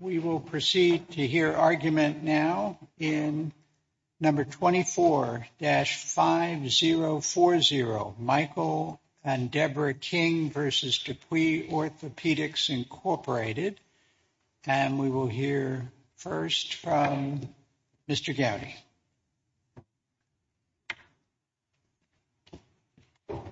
We will proceed to hear argument now in number 24-5040, Michael and Deborah King v. DePuy Orthopaedics, Inc., and we will hear first from Mr. Gowdy. Mr. Gowdy, are you there?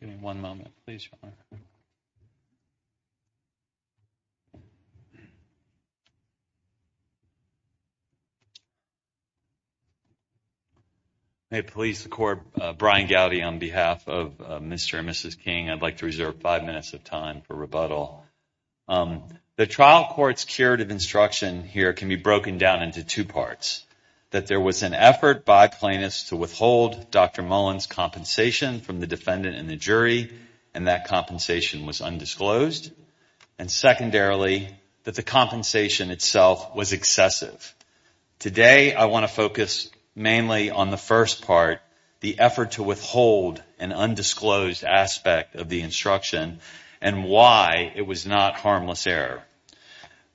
Give me one moment, please. May it please the Court, Brian Gowdy on behalf of Mr. and Mrs. King, I'd like to reserve five minutes of time for rebuttal. The trial court's curative instruction here can be broken down into two parts. That there was an effort by plaintiffs to withhold Dr. Mullen's compensation from the defendant and the jury, and that compensation was undisclosed. And secondarily, that the compensation itself was excessive. Today, I want to focus mainly on the first part, the effort to withhold an undisclosed aspect of the instruction and why it was not harmless error.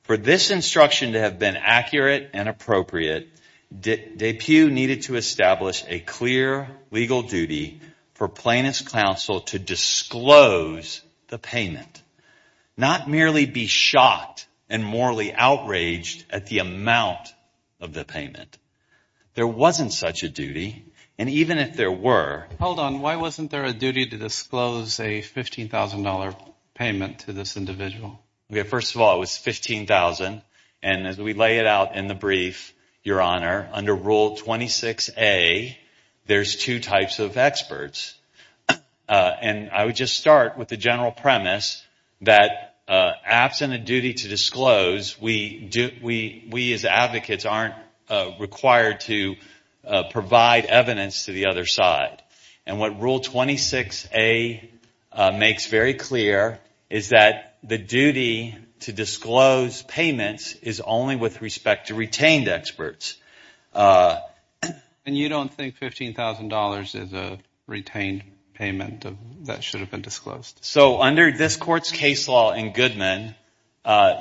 For this instruction to have been accurate and appropriate, DePuy needed to establish a clear legal duty for plaintiff's counsel to disclose the payment. Not merely be shocked and morally outraged at the amount of the payment. There wasn't such a duty, and even if there were... Hold on, why wasn't there a duty to disclose a $15,000 payment to this individual? First of all, it was $15,000, and as we lay it out in the brief, Your Honor, under Rule 26A, there's two types of experts. And I would just start with the general premise that absent a duty to disclose, we as advocates aren't required to provide evidence to the other side. And what Rule 26A makes very clear is that the duty to disclose payments is only with respect to retained experts. And you don't think $15,000 is a retained payment that should have been disclosed? So under this Court's case law in Goodman,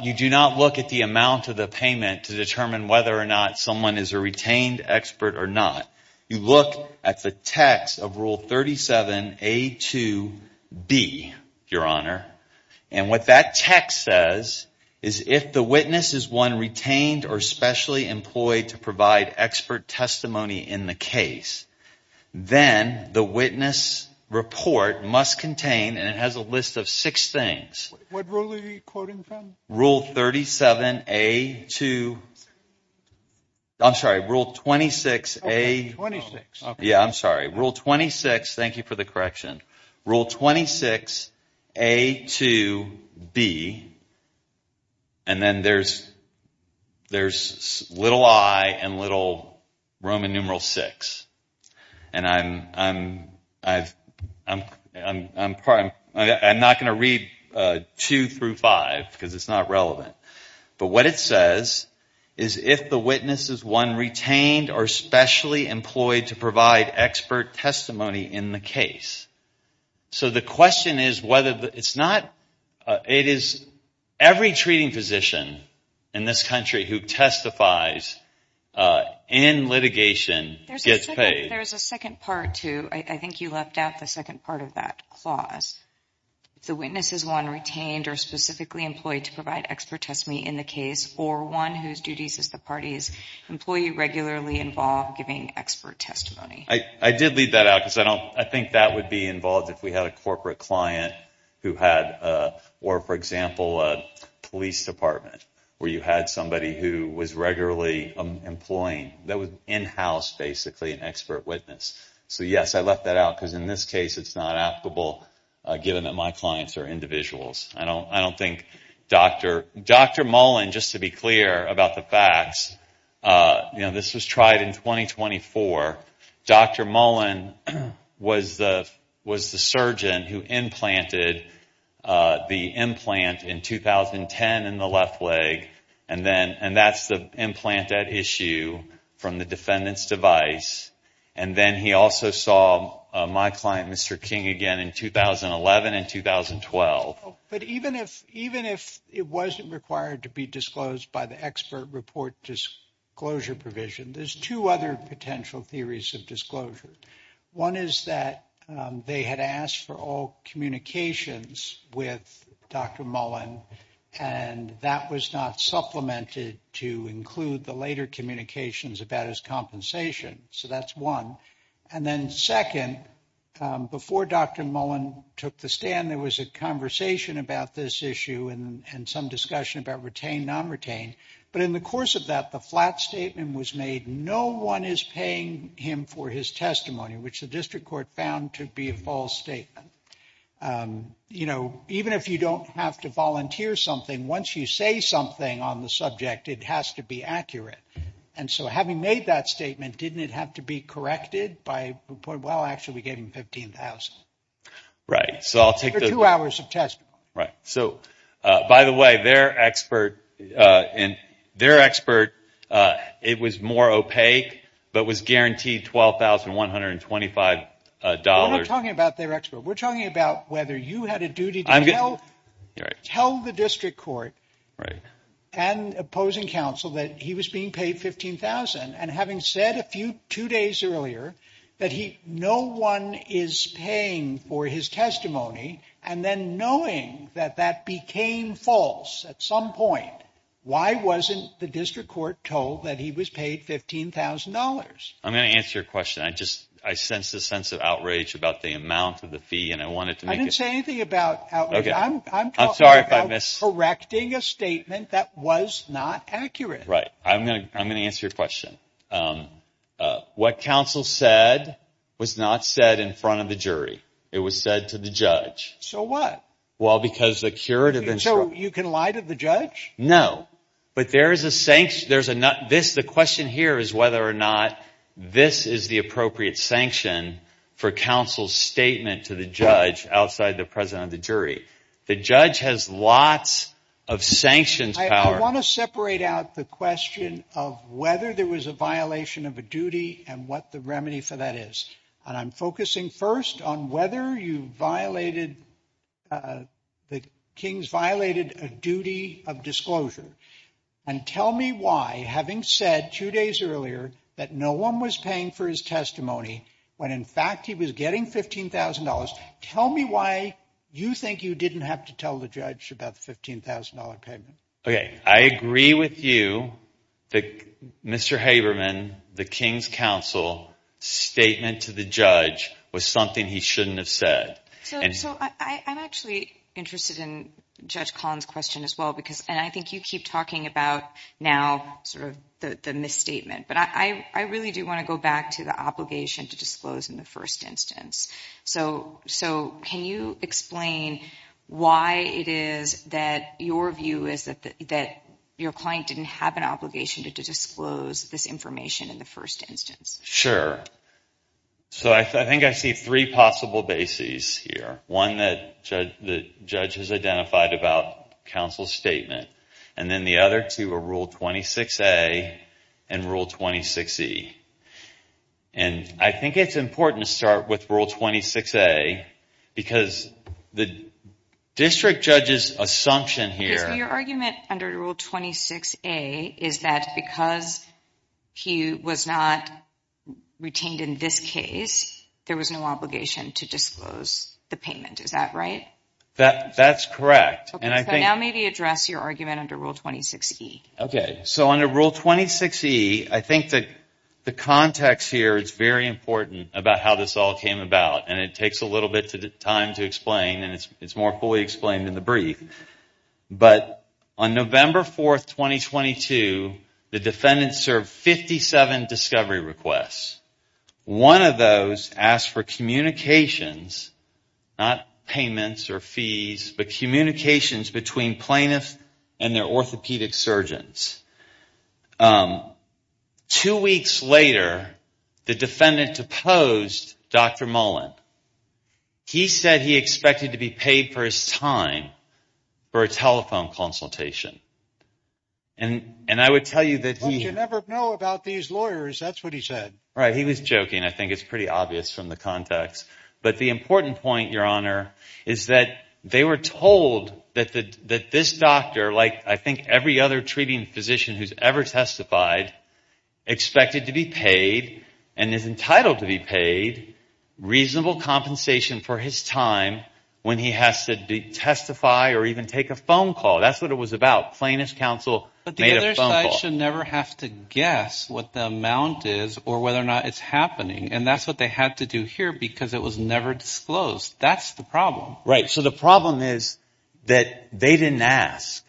you do not look at the amount of the payment to determine whether or not someone is a retained expert or not. You look at the text of Rule 37A to B, Your Honor, and what that text says is if the witness is one retained or specially employed to provide expert testimony in the case, then the witness report must contain, and it has a list of six things. What rule are you quoting from? Rule 37A to... I'm sorry, Rule 26A... Rule 26. Yeah, I'm sorry. Rule 26, thank you for the correction. Rule 26A to B, and then there's little i and little roman numeral 6. And I'm not going to read 2 through 5 because it's not relevant. But what it says is if the witness is one retained or specially employed to provide expert testimony in the case. So the question is whether it's not... It is every treating physician in this country who testifies in litigation gets paid. There's a second part to... I think you left out the second part of that clause. If the witness is one retained or specifically employed to provide expert testimony in the case, or one whose duties as the party's employee regularly involve giving expert testimony. I did leave that out because I think that would be involved if we had a corporate client who had... Or, for example, a police department where you had somebody who was regularly employing... That was in-house, basically, an expert witness. So, yes, I left that out because in this case it's not applicable given that my clients are individuals. I don't think Dr. Mullen, just to be clear about the facts, you know, this was tried in 2024. Dr. Mullen was the surgeon who implanted the implant in 2010 in the left leg. And that's the implant at issue from the defendant's device. And then he also saw my client, Mr. King, again in 2011 and 2012. But even if it wasn't required to be disclosed by the expert report disclosure provision, there's two other potential theories of disclosure. One is that they had asked for all communications with Dr. Mullen, and that was not supplemented to include the later communications about his compensation. So that's one. And then second, before Dr. Mullen took the stand, there was a conversation about this issue and some discussion about retained, non-retained. But in the course of that, the flat statement was made, no one is paying him for his testimony, which the district court found to be a false statement. You know, even if you don't have to volunteer something, once you say something on the subject, it has to be accurate. And so having made that statement, didn't it have to be corrected by, well, actually we gave him $15,000. For two hours of testimony. Right. So, by the way, their expert, it was more opaque, but was guaranteed $12,125. We're not talking about their expert, we're talking about whether you had a duty to tell the district court and opposing counsel that he was being paid $15,000, and having said a few, two days earlier, that no one is paying for his testimony, and then knowing that that became false at some point, why wasn't the district court told that he was paid $15,000? I'm going to answer your question. I just, I sense a sense of outrage about the amount of the fee, and I wanted to make it. I didn't say anything about outrage. I'm talking about correcting a statement that was not accurate. Right. I'm going to answer your question. What counsel said was not said in front of the jury. It was said to the judge. So what? Well, because the curative instruction. So, you can lie to the judge? No, but there is a, the question here is whether or not this is the appropriate sanction for counsel's statement to the judge outside the presence of the jury. The judge has lots of sanctions power. I want to separate out the question of whether there was a violation of a duty and what the remedy for that is. And I'm focusing first on whether you violated, the King's violated a duty of disclosure. And tell me why, having said two days earlier, that no one was paying for his testimony, when in fact he was getting $15,000. Tell me why you think you didn't have to tell the judge about the $15,000 payment. Okay. I agree with you that Mr. Haberman, the King's counsel statement to the judge was something he shouldn't have said. So, I'm actually interested in Judge Collins' question as well because, and I think you keep talking about now sort of the misstatement, but I really do want to go back to the obligation to disclose in the first instance. So, can you explain why it is that your view is that your client didn't have an obligation to disclose this information in the first instance? Sure. So, I think I see three possible bases here. One that the judge has identified about counsel's statement. And then the other two are Rule 26A and Rule 26E. And I think it's important to start with Rule 26A because the district judge's assumption here... So, your argument under Rule 26A is that because he was not retained in this case, there was no obligation to disclose the payment. Is that right? That's correct. So, now maybe address your argument under Rule 26E. Okay. So, under Rule 26E, I think that the context here is very important about how this all came about. And it takes a little bit of time to explain and it's more fully explained in the brief. But on November 4, 2022, the defendant served 57 discovery requests. One of those asked for communications, not payments or fees, but communications between plaintiffs and their orthopedic surgeons. Two weeks later, the defendant deposed Dr. Mullen. He said he expected to be paid for his time for a telephone consultation. And I would tell you that he... Well, you never know about these lawyers. That's what he said. Right. He was joking. I think it's pretty obvious from the context. But the important point, Your Honor, is that they were told that this doctor, like I think every other treating physician who's ever testified, expected to be paid and is entitled to be paid reasonable compensation for his time when he has to testify or even take a phone call. That's what it was about. Plaintiff's counsel made a phone call. But the other side should never have to guess what the amount is or whether or not it's happening. And that's what they had to do here because it was never disclosed. That's the problem. Right. So the problem is that they didn't ask.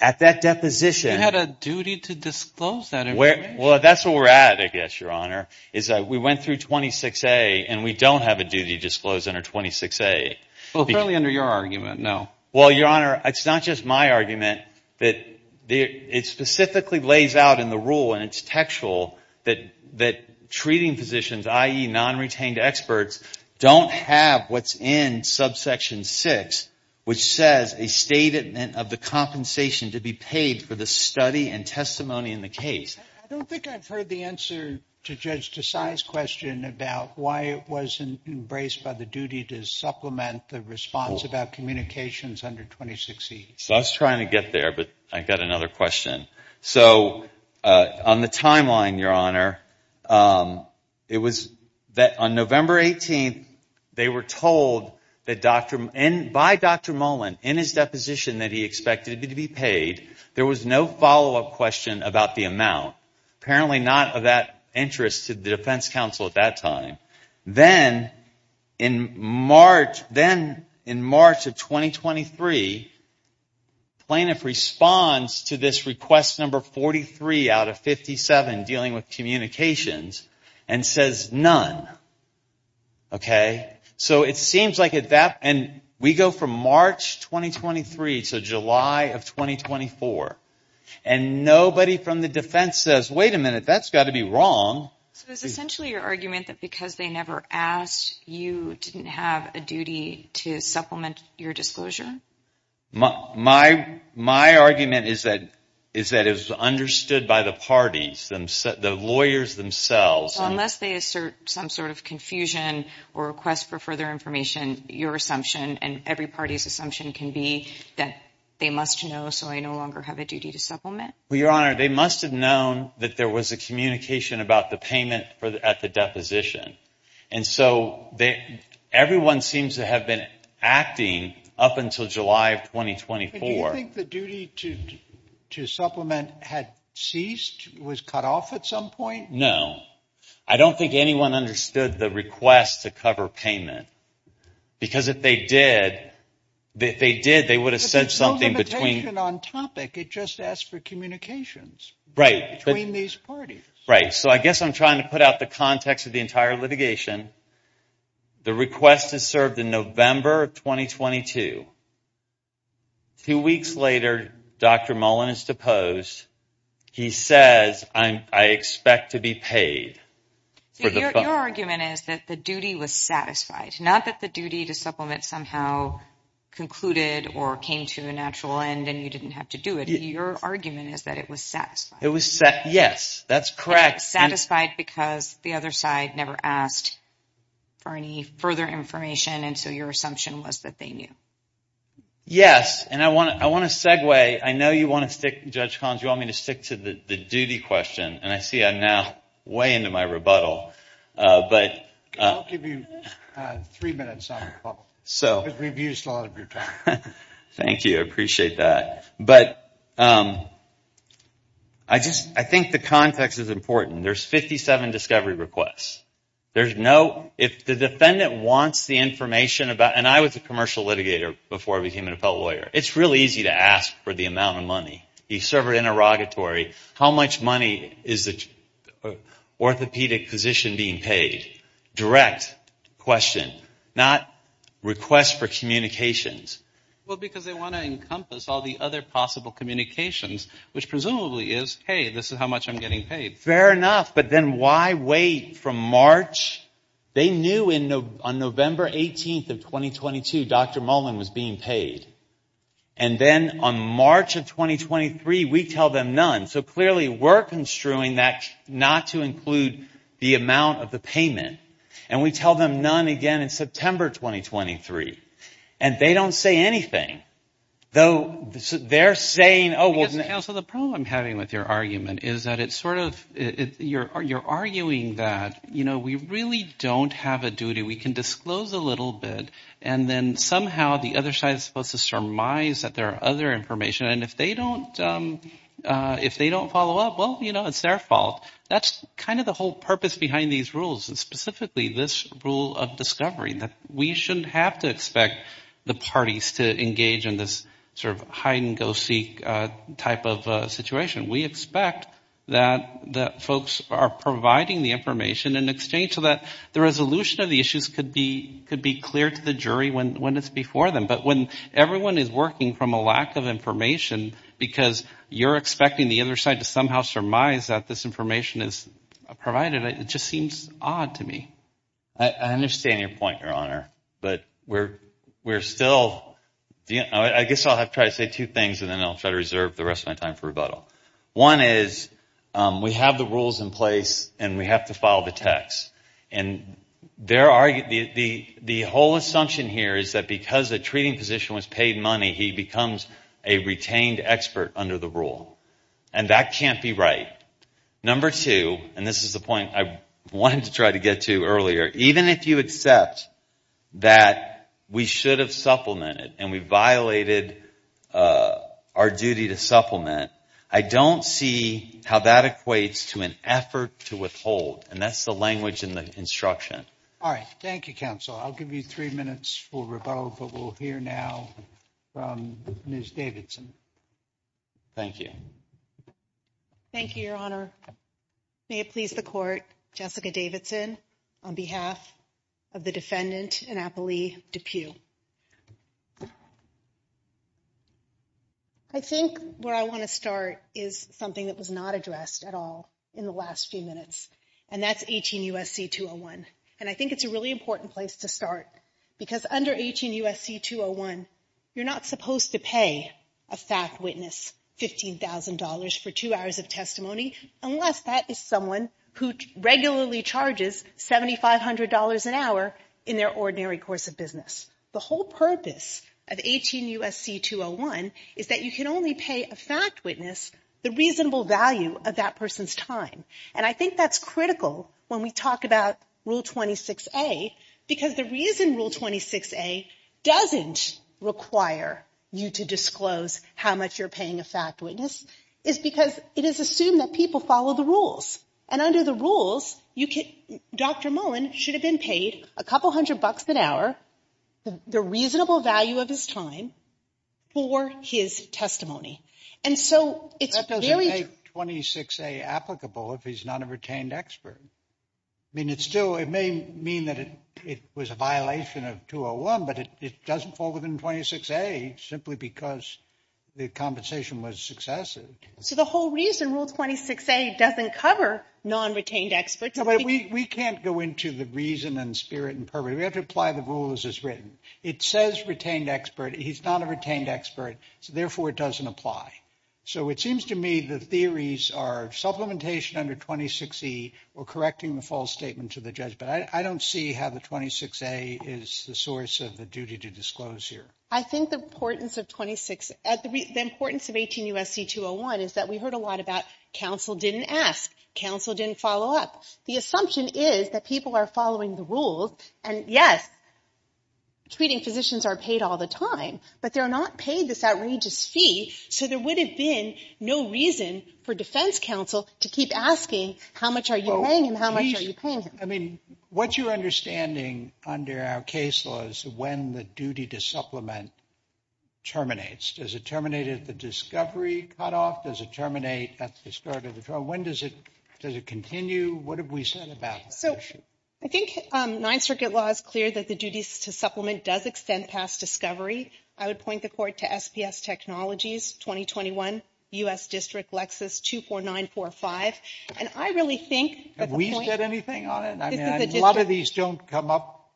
At that deposition... You had a duty to disclose that information. Well, that's where we're at, I guess, Your Honor, is that we went through 26A and we don't have a duty disclosed under 26A. Well, apparently under your argument, no. Well, Your Honor, it's not just my argument. It specifically lays out in the rule, and it's textual, that treating physicians, i.e. non-retained experts, don't have what's in subsection 6, which says a statement of the compensation to be paid for the study and testimony in the case. I don't think I've heard the answer to Judge Desai's question about why it wasn't embraced by the duty to supplement the response about communications under 26E. I was trying to get there, but I've got another question. So on the timeline, Your Honor, it was that on November 18th, they were told by Dr. Mullen in his deposition that he expected to be paid. There was no follow-up question about the amount. Apparently not of that interest to the defense counsel at that time. Then in March of 2023, plaintiff responds to this request number 43 out of 57 dealing with communications and says none. So it seems like at that, and we go from March 2023 to July of 2024, and nobody from the defense says, wait a minute, that's got to be wrong. So it's essentially your argument that because they never asked, you didn't have a duty to supplement your disclosure? My argument is that it was understood by the parties, the lawyers themselves. Unless they assert some sort of confusion or request for further information, your assumption and every party's assumption can be that they must know, so I no longer have a duty to supplement? Well, Your Honor, they must have known that there was a communication about the payment at the deposition, and so everyone seems to have been acting up until July of 2024. Do you think the duty to supplement had ceased, was cut off at some point? No. I don't think anyone understood the request to cover payment, because if they did, they would have said something between. It just asked for communications between these parties. Right, so I guess I'm trying to put out the context of the entire litigation. The request is served in November of 2022. Two weeks later, Dr. Mullen is deposed. He says, I expect to be paid. Your argument is that the duty was satisfied, not that the duty to supplement somehow concluded or came to a natural end and you didn't have to do it. Your argument is that it was satisfied. Yes, that's correct. Satisfied because the other side never asked for any further information, and so your assumption was that they knew. Yes, and I want to segue. I know you want to stick, Judge Collins, you want me to stick to the duty question, and I see I'm now way into my rebuttal. I'll give you three minutes on the call. We've used a lot of your time. Thank you, I appreciate that. I think the context is important. There's 57 discovery requests. If the defendant wants the information, and I was a commercial litigator before I became an appellate lawyer, it's really easy to ask for the amount of money. You serve it interrogatory. How much money is the orthopedic physician being paid? Direct question, not request for communications. Well, because they want to encompass all the other possible communications, which presumably is, hey, this is how much I'm getting paid. Fair enough, but then why wait from March? They knew on November 18th of 2022 Dr. Mullen was being paid, and then on March of 2023 we tell them none. So clearly we're construing that not to include the amount of the payment. And we tell them none again in September 2023. And they don't say anything, though they're saying, oh, well. So the problem I'm having with your argument is that it's sort of, you're arguing that, you know, we really don't have a duty. We can disclose a little bit, and then somehow the other side is supposed to surmise that there are other information, and if they don't follow up, well, you know, it's their fault. That's kind of the whole purpose behind these rules, and specifically this rule of discovery, that we shouldn't have to expect the parties to engage in this sort of hide-and-go-seek type of situation. We expect that folks are providing the information in exchange so that the resolution of the issues could be clear to the jury when it's before them. But when everyone is working from a lack of information because you're expecting the other side to somehow surmise that this information is provided, it just seems odd to me. I understand your point, Your Honor, but we're still, I guess I'll try to say two things, and then I'll try to reserve the rest of my time for rebuttal. One is we have the rules in place, and we have to follow the text. And there are, the whole assumption here is that because the treating physician was paid money, he becomes a retained expert under the rule. And that can't be right. Number two, and this is the point I wanted to try to get to earlier, even if you accept that we should have supplemented and we violated our duty to supplement, I don't see how that equates to an effort to withhold. And that's the language in the instruction. All right. Thank you, Counsel. I'll give you three minutes for rebuttal, but we'll hear now from Ms. Davidson. Thank you. Thank you, Your Honor. May it please the Court, Jessica Davidson, on behalf of the defendant, Annapolis Depew. I think where I want to start is something that was not addressed at all in the last few minutes, and that's 18 U.S.C. 201. And I think it's a really important place to start because under 18 U.S.C. 201, you're not supposed to pay a fact witness $15,000 for two hours of testimony unless that is someone who regularly charges $7,500 an hour in their ordinary course of business. The whole purpose of 18 U.S.C. 201 is that you can only pay a fact witness the reasonable value of that person's time. And I think that's critical when we talk about Rule 26A because the reason Rule 26A doesn't require you to disclose how much you're paying a fact witness is because it is assumed that people follow the rules. And under the rules, Dr. Mullen should have been paid a couple hundred bucks an hour, the reasonable value of his time, for his testimony. And so it's very... That doesn't make 26A applicable if he's not a retained expert. I mean, it still may mean that it was a violation of 201, but it doesn't fall within 26A simply because the compensation was successive. So the whole reason Rule 26A doesn't cover non-retained experts... We can't go into the reason and spirit and purpose. We have to apply the rules as written. It says retained expert. He's not a retained expert. Therefore, it doesn't apply. So it seems to me the theories are supplementation under 26E or correcting the false statement to the judge. But I don't see how the 26A is the source of the duty to disclose here. I think the importance of 26... The importance of 18 U.S.C. 201 is that we heard a lot about counsel didn't ask, counsel didn't follow up. The assumption is that people are following the rules, and yes, treating physicians are paid all the time, but they're not paid this outrageous fee, so there would have been no reason for defense counsel to keep asking how much are you paying and how much are you paying. I mean, what you're understanding under our case law is when the duty to supplement terminates. Does it terminate at the discovery cutoff? Does it terminate at the start of the trial? When does it continue? What have we said about this issue? I think Ninth Circuit law is clear that the duties to supplement does extend past discovery. I would point the court to SPS Technologies 2021, U.S. District, Lexis 24945, and I really think... Have we said anything on it? A lot of these don't come up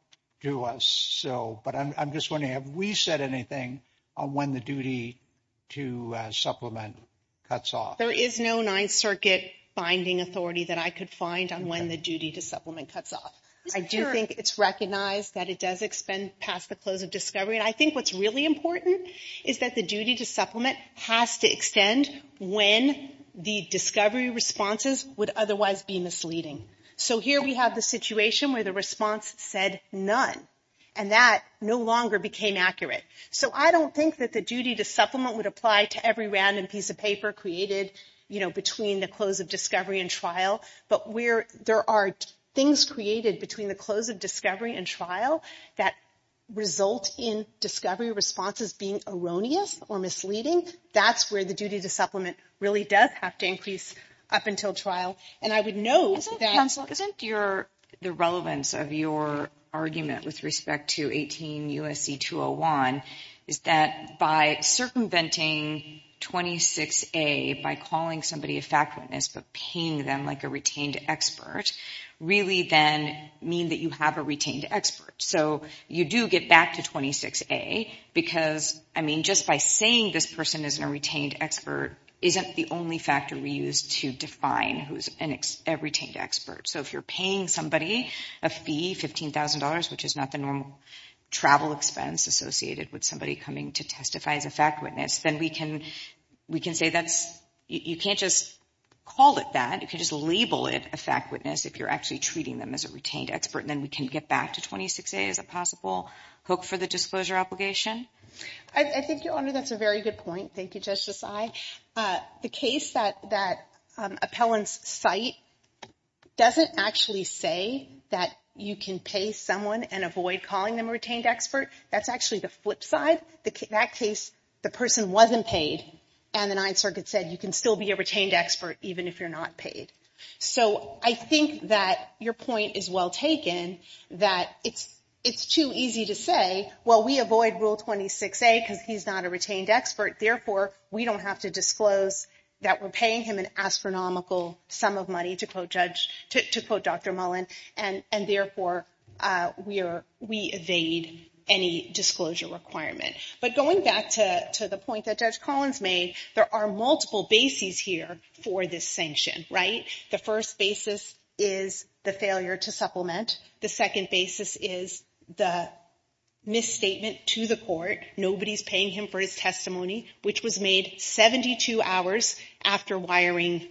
to us, but I'm just wondering, have we said anything on when the duty to supplement cuts off? There is no Ninth Circuit binding authority that I could find on when the duty to supplement cuts off. I do think it's recognized that it does extend past the close of discovery, and I think what's really important is that the duty to supplement has to extend when the discovery responses would otherwise be misleading. So here we have the situation where the response said none, and that no longer became accurate. So I don't think that the duty to supplement would apply to every random piece of paper created between the close of discovery and trial, but where there are things created between the close of discovery and trial that result in discovery responses being erroneous or misleading, that's where the duty to supplement really does have to increase up until trial. Counsel, isn't the relevance of your argument with respect to 18 U.S.C. 201 is that by circumventing 26A, by calling somebody a fact witness but paying them like a retained expert, really then means that you have a retained expert. So you do get back to 26A, because just by saying this person isn't a retained expert isn't the only factor we use to define who's a retained expert. So if you're paying somebody a fee, $15,000, which is not the normal travel expense associated with somebody coming to testify as a fact witness, then we can say that's... You can't just call it that. You can just label it a fact witness if you're actually treating them as a retained expert, and then we can get back to 26A as a possible hook for the disclosure obligation? I think, Your Honor, that's a very good point. Thank you, Justice Sy. The case that appellants cite doesn't actually say that you can pay someone and avoid calling them a retained expert. That's actually the flip side. In that case, the person wasn't paid, and the Ninth Circuit said you can still be a retained expert even if you're not paid. So I think that your point is well taken, that it's too easy to say, well, we avoid Rule 26A because he's not a retained expert, therefore we don't have to disclose that we're paying him an astronomical sum of money, to quote Dr. Mullen, and therefore we evade any disclosure requirement. But going back to the point that Judge Collins made, there are multiple bases here for this sanction, right? The first basis is the failure to supplement. The second basis is the misstatement to the court. Nobody's paying him for his testimony, which was made 72 hours after wiring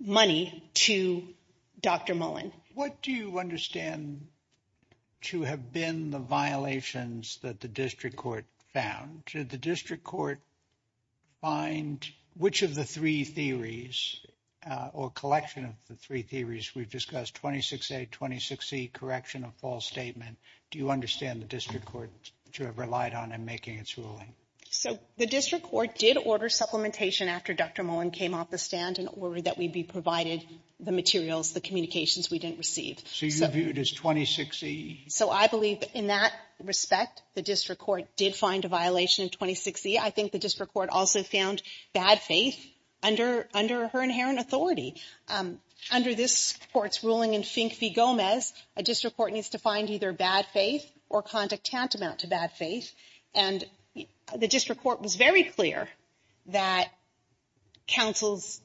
money to Dr. Mullen. What do you understand to have been the violations that the district court found? Did the district court find which of the three theories, or collection of the three theories we've discussed, 26A, 26E, correction of false statement, do you understand the district court that you have relied on in making its ruling? So the district court did order supplementation after Dr. Mullen came off the stand in order that we be provided the materials, the communications we didn't receive. So you view it as 26E? So I believe in that respect, the district court did find a violation in 26E. I think the district court also found bad faith under her inherent authority. Under this court's ruling in Fink v. Gomez, a district court needs to find either bad faith or conduct tantamount to bad faith. And the district court was very clear that counsel's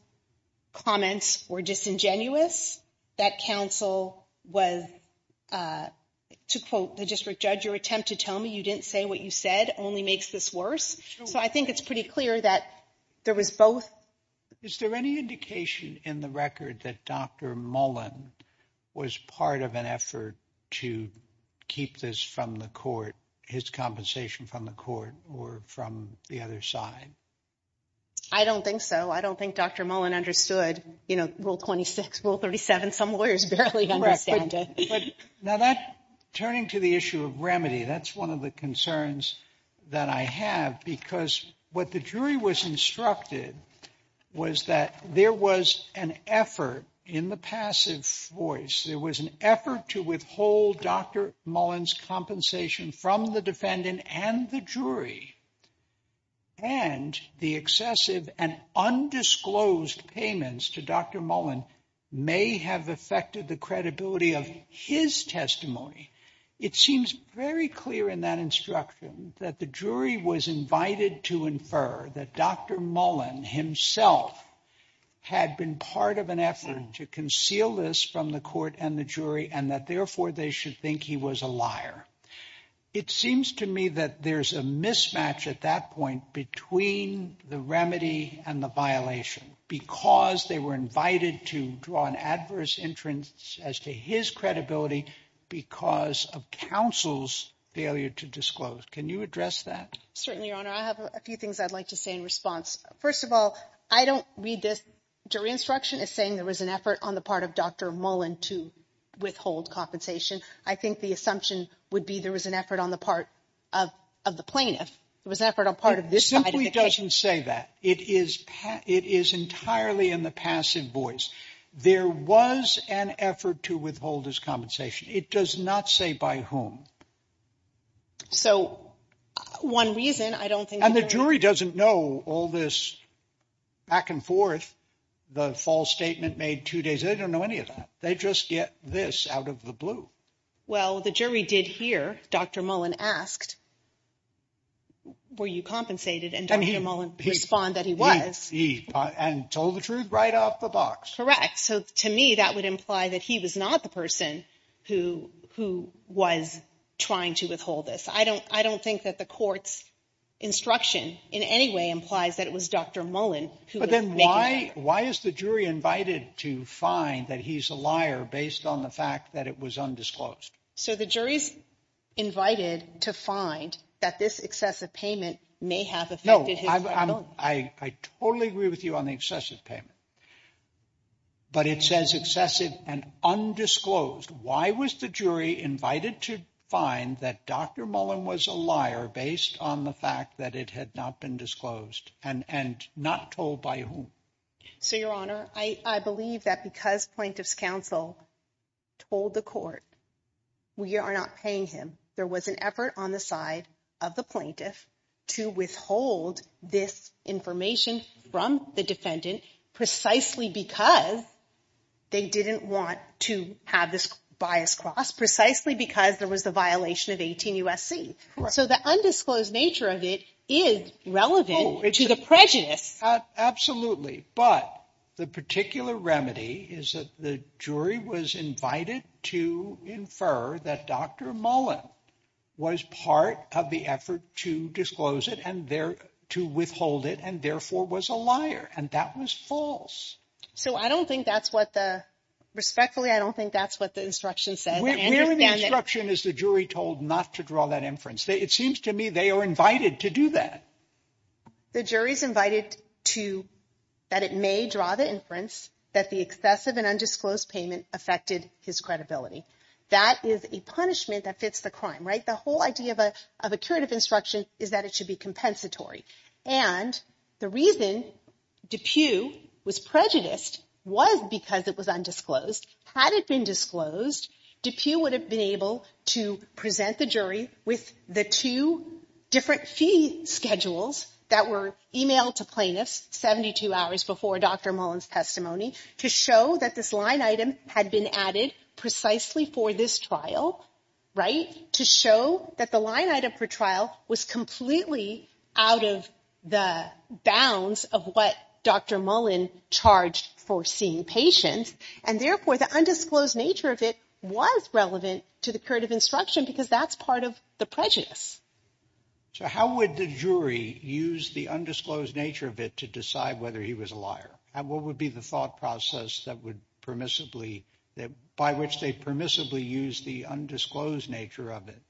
comments were disingenuous, that counsel was, to quote the district judge, your attempt to tell me you didn't say what you said only makes this worse. So I think it's pretty clear that there was both. Is there any indication in the record that Dr. Mullen was part of an effort to keep this from the court, his compensation from the court, or from the other side? I don't think so. I don't think Dr. Mullen understood, you know, Rule 26, Rule 37. Some lawyers barely understand it. Now, turning to the issue of remedy, that's one of the concerns that I have because what the jury was instructed was that there was an effort in the passive voice, there was an effort to withhold Dr. Mullen's compensation from the defendant and the jury, and the excessive and undisclosed payments to Dr. Mullen may have affected the credibility of his testimony. It seems very clear in that instruction that the jury was invited to infer that Dr. Mullen himself had been part of an effort to conceal this from the court and the jury and that therefore they should think he was a liar. It seems to me that there's a mismatch at that point between the remedy and the violation because they were invited to draw an adverse entrance as to his credibility because of counsel's failure to disclose. Can you address that? Certainly, Your Honor. I have a few things I'd like to say in response. First of all, I don't read this jury instruction as saying there was an effort on the part of Dr. Mullen to withhold compensation. I think the assumption would be there was an effort on the part of the plaintiff. It was an effort on part of this side of the case. It simply doesn't say that. It is entirely in the passive voice. There was an effort to withhold his compensation. It does not say by whom. So one reason I don't think... And the jury doesn't know all this back and forth. The false statement made two days. They don't know any of that. They just get this out of the blue. Well, the jury did hear Dr. Mullen asked, were you compensated? And Dr. Mullen responded that he was. And told the truth right off the box. Correct. So to me, that would imply that he was not the person who was trying to withhold this. I don't think that the court's instruction in any way implies that it was Dr. Mullen who was making that. But then why is the jury invited to find that he's a liar based on the fact that it was undisclosed? So the jury's invited to find that this excessive payment may have affected his ability. No, I totally agree with you on the excessive payment. But it says excessive and undisclosed. Why was the jury invited to find that Dr. Mullen was a liar based on the fact that it had not been disclosed and not told by whom? So, Your Honor, I believe that because Plaintiff's Counsel told the court we are not paying him, there was an effort on the side of the plaintiff to withhold this information from the defendant precisely because they didn't want to have this bias crossed, precisely because there was the violation of 18 U.S.C. So the undisclosed nature of it is relevant to the prejudice. Absolutely. But the particular remedy is that the jury was invited to infer that Dr. Mullen was part of the effort to disclose it and to withhold it and therefore was a liar. And that was false. So I don't think that's what the... Respectfully, I don't think that's what the instruction said. Where in the instruction is the jury told not to draw that inference? It seems to me they are invited to do that. The jury's invited that it may draw the inference that the excessive and undisclosed payment affected his credibility. That is a punishment that fits the crime, right? The whole idea of a curative instruction is that it should be compensatory. And the reason DePue was prejudiced was because it was undisclosed. Had it been disclosed, DePue would have been able to present the jury with the two different fee schedules that were emailed to plaintiffs 72 hours before Dr. Mullen's testimony to show that this line item had been added precisely for this trial, right? To show that the line item for trial was completely out of the bounds of what Dr. Mullen charged for seeing patients, and therefore the undisclosed nature of it was relevant to the curative instruction because that's part of the prejudice. So how would the jury use the undisclosed nature of it to decide whether he was a liar? And what would be the thought process that would permissibly... by which they'd permissibly use the undisclosed nature of it?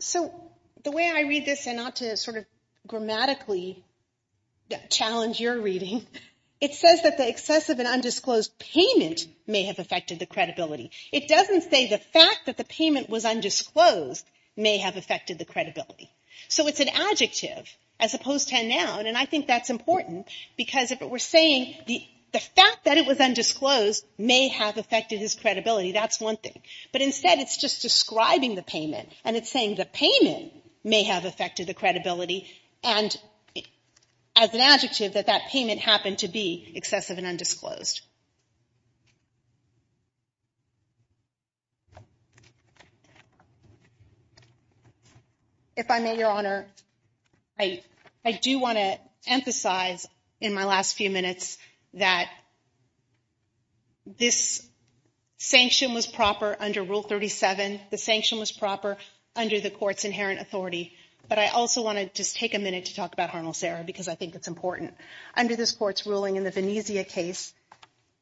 So the way I read this, and not to sort of grammatically challenge your reading, it says that the excessive and undisclosed payment may have affected the credibility. It doesn't say the fact that the payment was undisclosed may have affected the credibility. So it's an adjective as opposed to a noun, and I think that's important because if we're saying the fact that it was undisclosed may have affected his credibility, that's one thing. But instead, it's just describing the payment, and it's saying the payment may have affected the credibility, and as an adjective, that that payment happened to be excessive and undisclosed. If I may, Your Honor, I do want to emphasize in my last few minutes that this sanction was proper under Rule 37. The sanction was proper under the court's inherent authority, but I also want to just take a minute to talk about Harnell-Serra because I think it's important. Under this court's ruling in the Venezia case,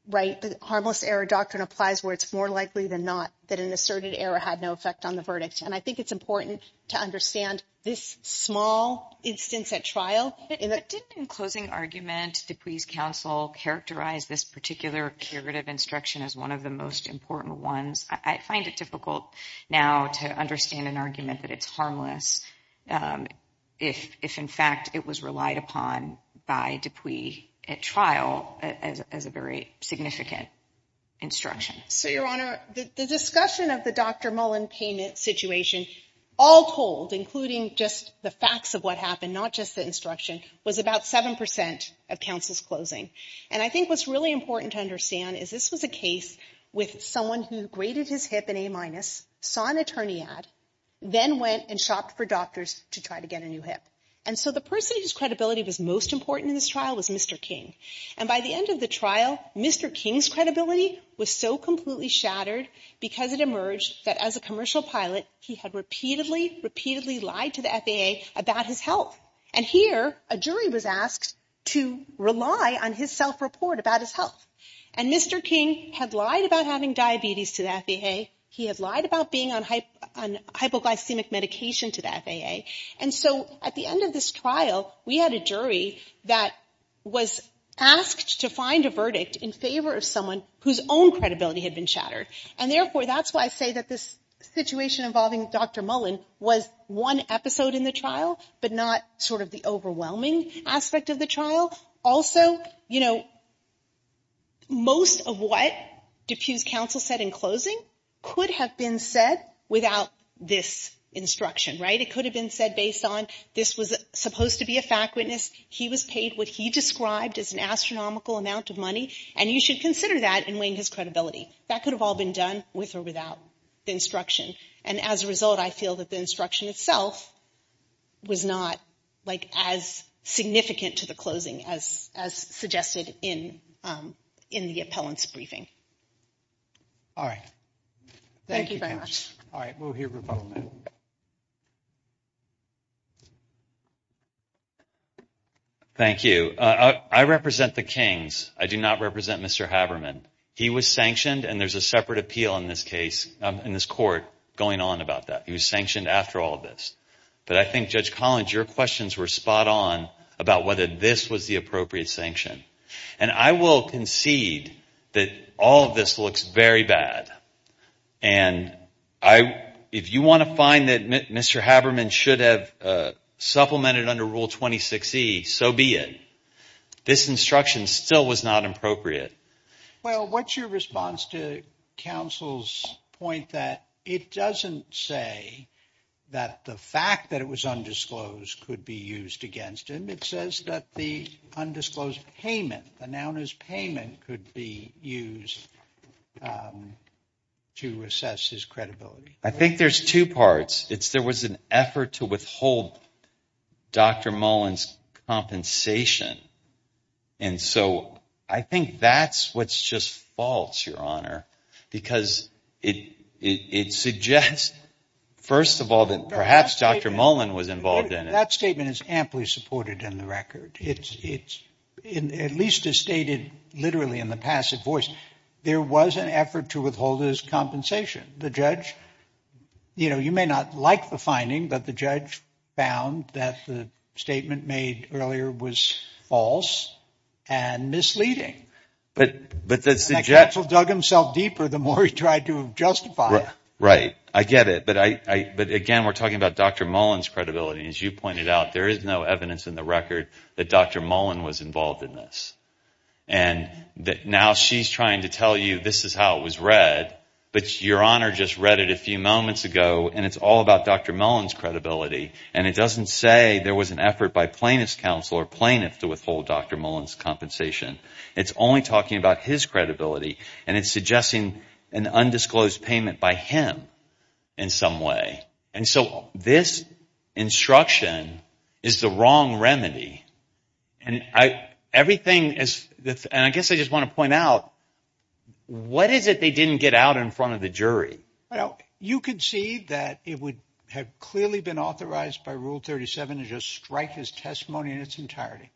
the harmless error doctrine applies where it's more likely than not that an asserted error had no effect on the verdict, and I think it's important to understand this small instance at trial. But didn't, in closing argument, Dupuy's counsel characterize this particular curative instruction as one of the most important ones? I find it difficult now to understand an argument that it's harmless if, in fact, it was relied upon by Dupuy at trial as a very significant instruction. So, Your Honor, the discussion of the Dr. Mullen payment situation, all told, including just the facts of what happened, not just the instruction, was about 7% of counsel's closing. And I think what's really important to understand is this was a case with someone who graded his hip an A-, saw an attorney ad, then went and shopped for doctors to try to get a new hip. And so the person whose credibility was most important in this trial was Mr. King. And by the end of the trial, Mr. King's credibility was so completely shattered because it emerged that, as a commercial pilot, he had repeatedly, repeatedly lied to the FAA about his health. And here, a jury was asked to rely on his self-report about his health. And Mr. King had lied about having diabetes to the FAA. He had lied about being on hypoglycemic medication to the FAA. And so at the end of this trial, we had a jury that was asked to find a verdict in favor of someone whose own credibility had been shattered. And therefore, that's why I say that this situation involving Dr. Mullen was one episode in the trial, but not sort of the overwhelming aspect of the trial. Also, you know, most of what Dupuy's counsel said in closing could have been said without this instruction, right? It could have been said based on this was supposed to be a fact witness, he was paid what he described as an astronomical amount of money, and you should consider that in weighing his credibility. That could have all been done with or without the instruction. And as a result, I feel that the instruction itself was not, like, as significant to the closing as suggested in the appellant's briefing. All right. Thank you very much. All right. We'll hear from Paul now. Thank you. I represent the Kings. I do not represent Mr. Haberman. He was sanctioned, and there's a separate appeal in this case, in this court going on about that. He was sanctioned after all of this. But I think, Judge Collins, your questions were spot on about whether this was the appropriate sanction. And I will concede that all of this looks very bad. And if you want to find that Mr. Haberman should have supplemented under Rule 26E, so be it. This instruction still was not appropriate. Well, what's your response to counsel's point that it doesn't say that the fact that it was undisclosed could be used against him? It says that the undisclosed payment, the noun is payment, could be used to assess his credibility. I think there's two parts. There was an effort to withhold Dr. Mullen's compensation. And so I think that's what's just false, Your Honor, because it suggests, first of all, that perhaps Dr. Mullen was involved in it. That statement is amply supported in the record. At least as stated literally in the passive voice, there was an effort to withhold his compensation. The judge, you know, you may not like the finding, but the judge found that the statement made earlier was false and misleading. And counsel dug himself deeper the more he tried to justify it. Right, I get it. But again, we're talking about Dr. Mullen's credibility. As you pointed out, there is no evidence in the record that Dr. Mullen was involved in this. And now she's trying to tell you this is how it was read, but Your Honor just read it a few moments ago, and it's all about Dr. Mullen's credibility. And it doesn't say there was an effort by plaintiff's counsel or plaintiff to withhold Dr. Mullen's compensation. It's only talking about his credibility, and it's suggesting an undisclosed payment by him in some way. And so this instruction is the wrong remedy. And I guess I just want to point out, what is it they didn't get out in front of the jury? Well, you could see that it would have clearly been authorized by Rule 37 to just strike his testimony in its entirety.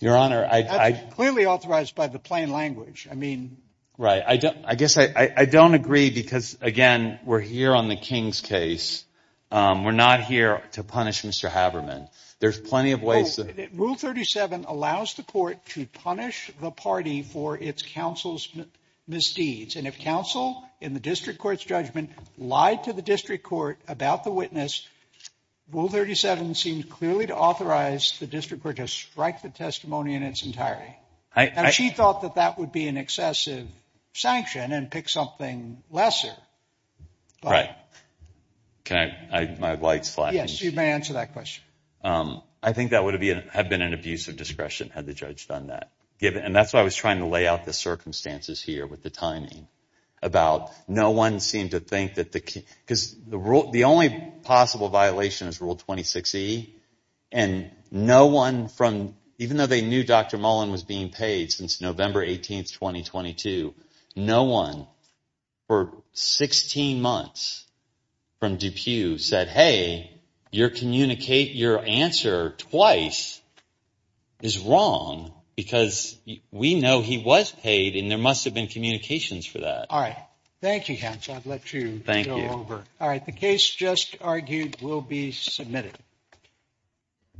Your Honor, I. Clearly authorized by the plain language. I mean. Right. I guess I don't agree because, again, we're here on the King's case. We're not here to punish Mr. Haberman. There's plenty of ways. Rule 37 allows the court to punish the party for its counsel's misdeeds. And if counsel, in the district court's judgment, lied to the district court about the witness, Rule 37 seems clearly to authorize the district court to strike the testimony in its entirety. Now, she thought that that would be an excessive sanction and pick something lesser. Right. Can I? My light's flashing. Yes, you may answer that question. I think that would have been an abuse of discretion had the judge done that. And that's why I was trying to lay out the circumstances here with the timing. About no one seemed to think that the. Because the rule. The only possible violation is Rule 26E. And no one from. Even though they knew Dr. Mullen was being paid since November 18th, 2022. No one for 16 months from Dupuy said, hey, you're communicate your answer twice. Is wrong because we know he was paid in. There must have been communications for that. All right. Thank you. I'd let you thank you over. All right. The case just argued will be submitted.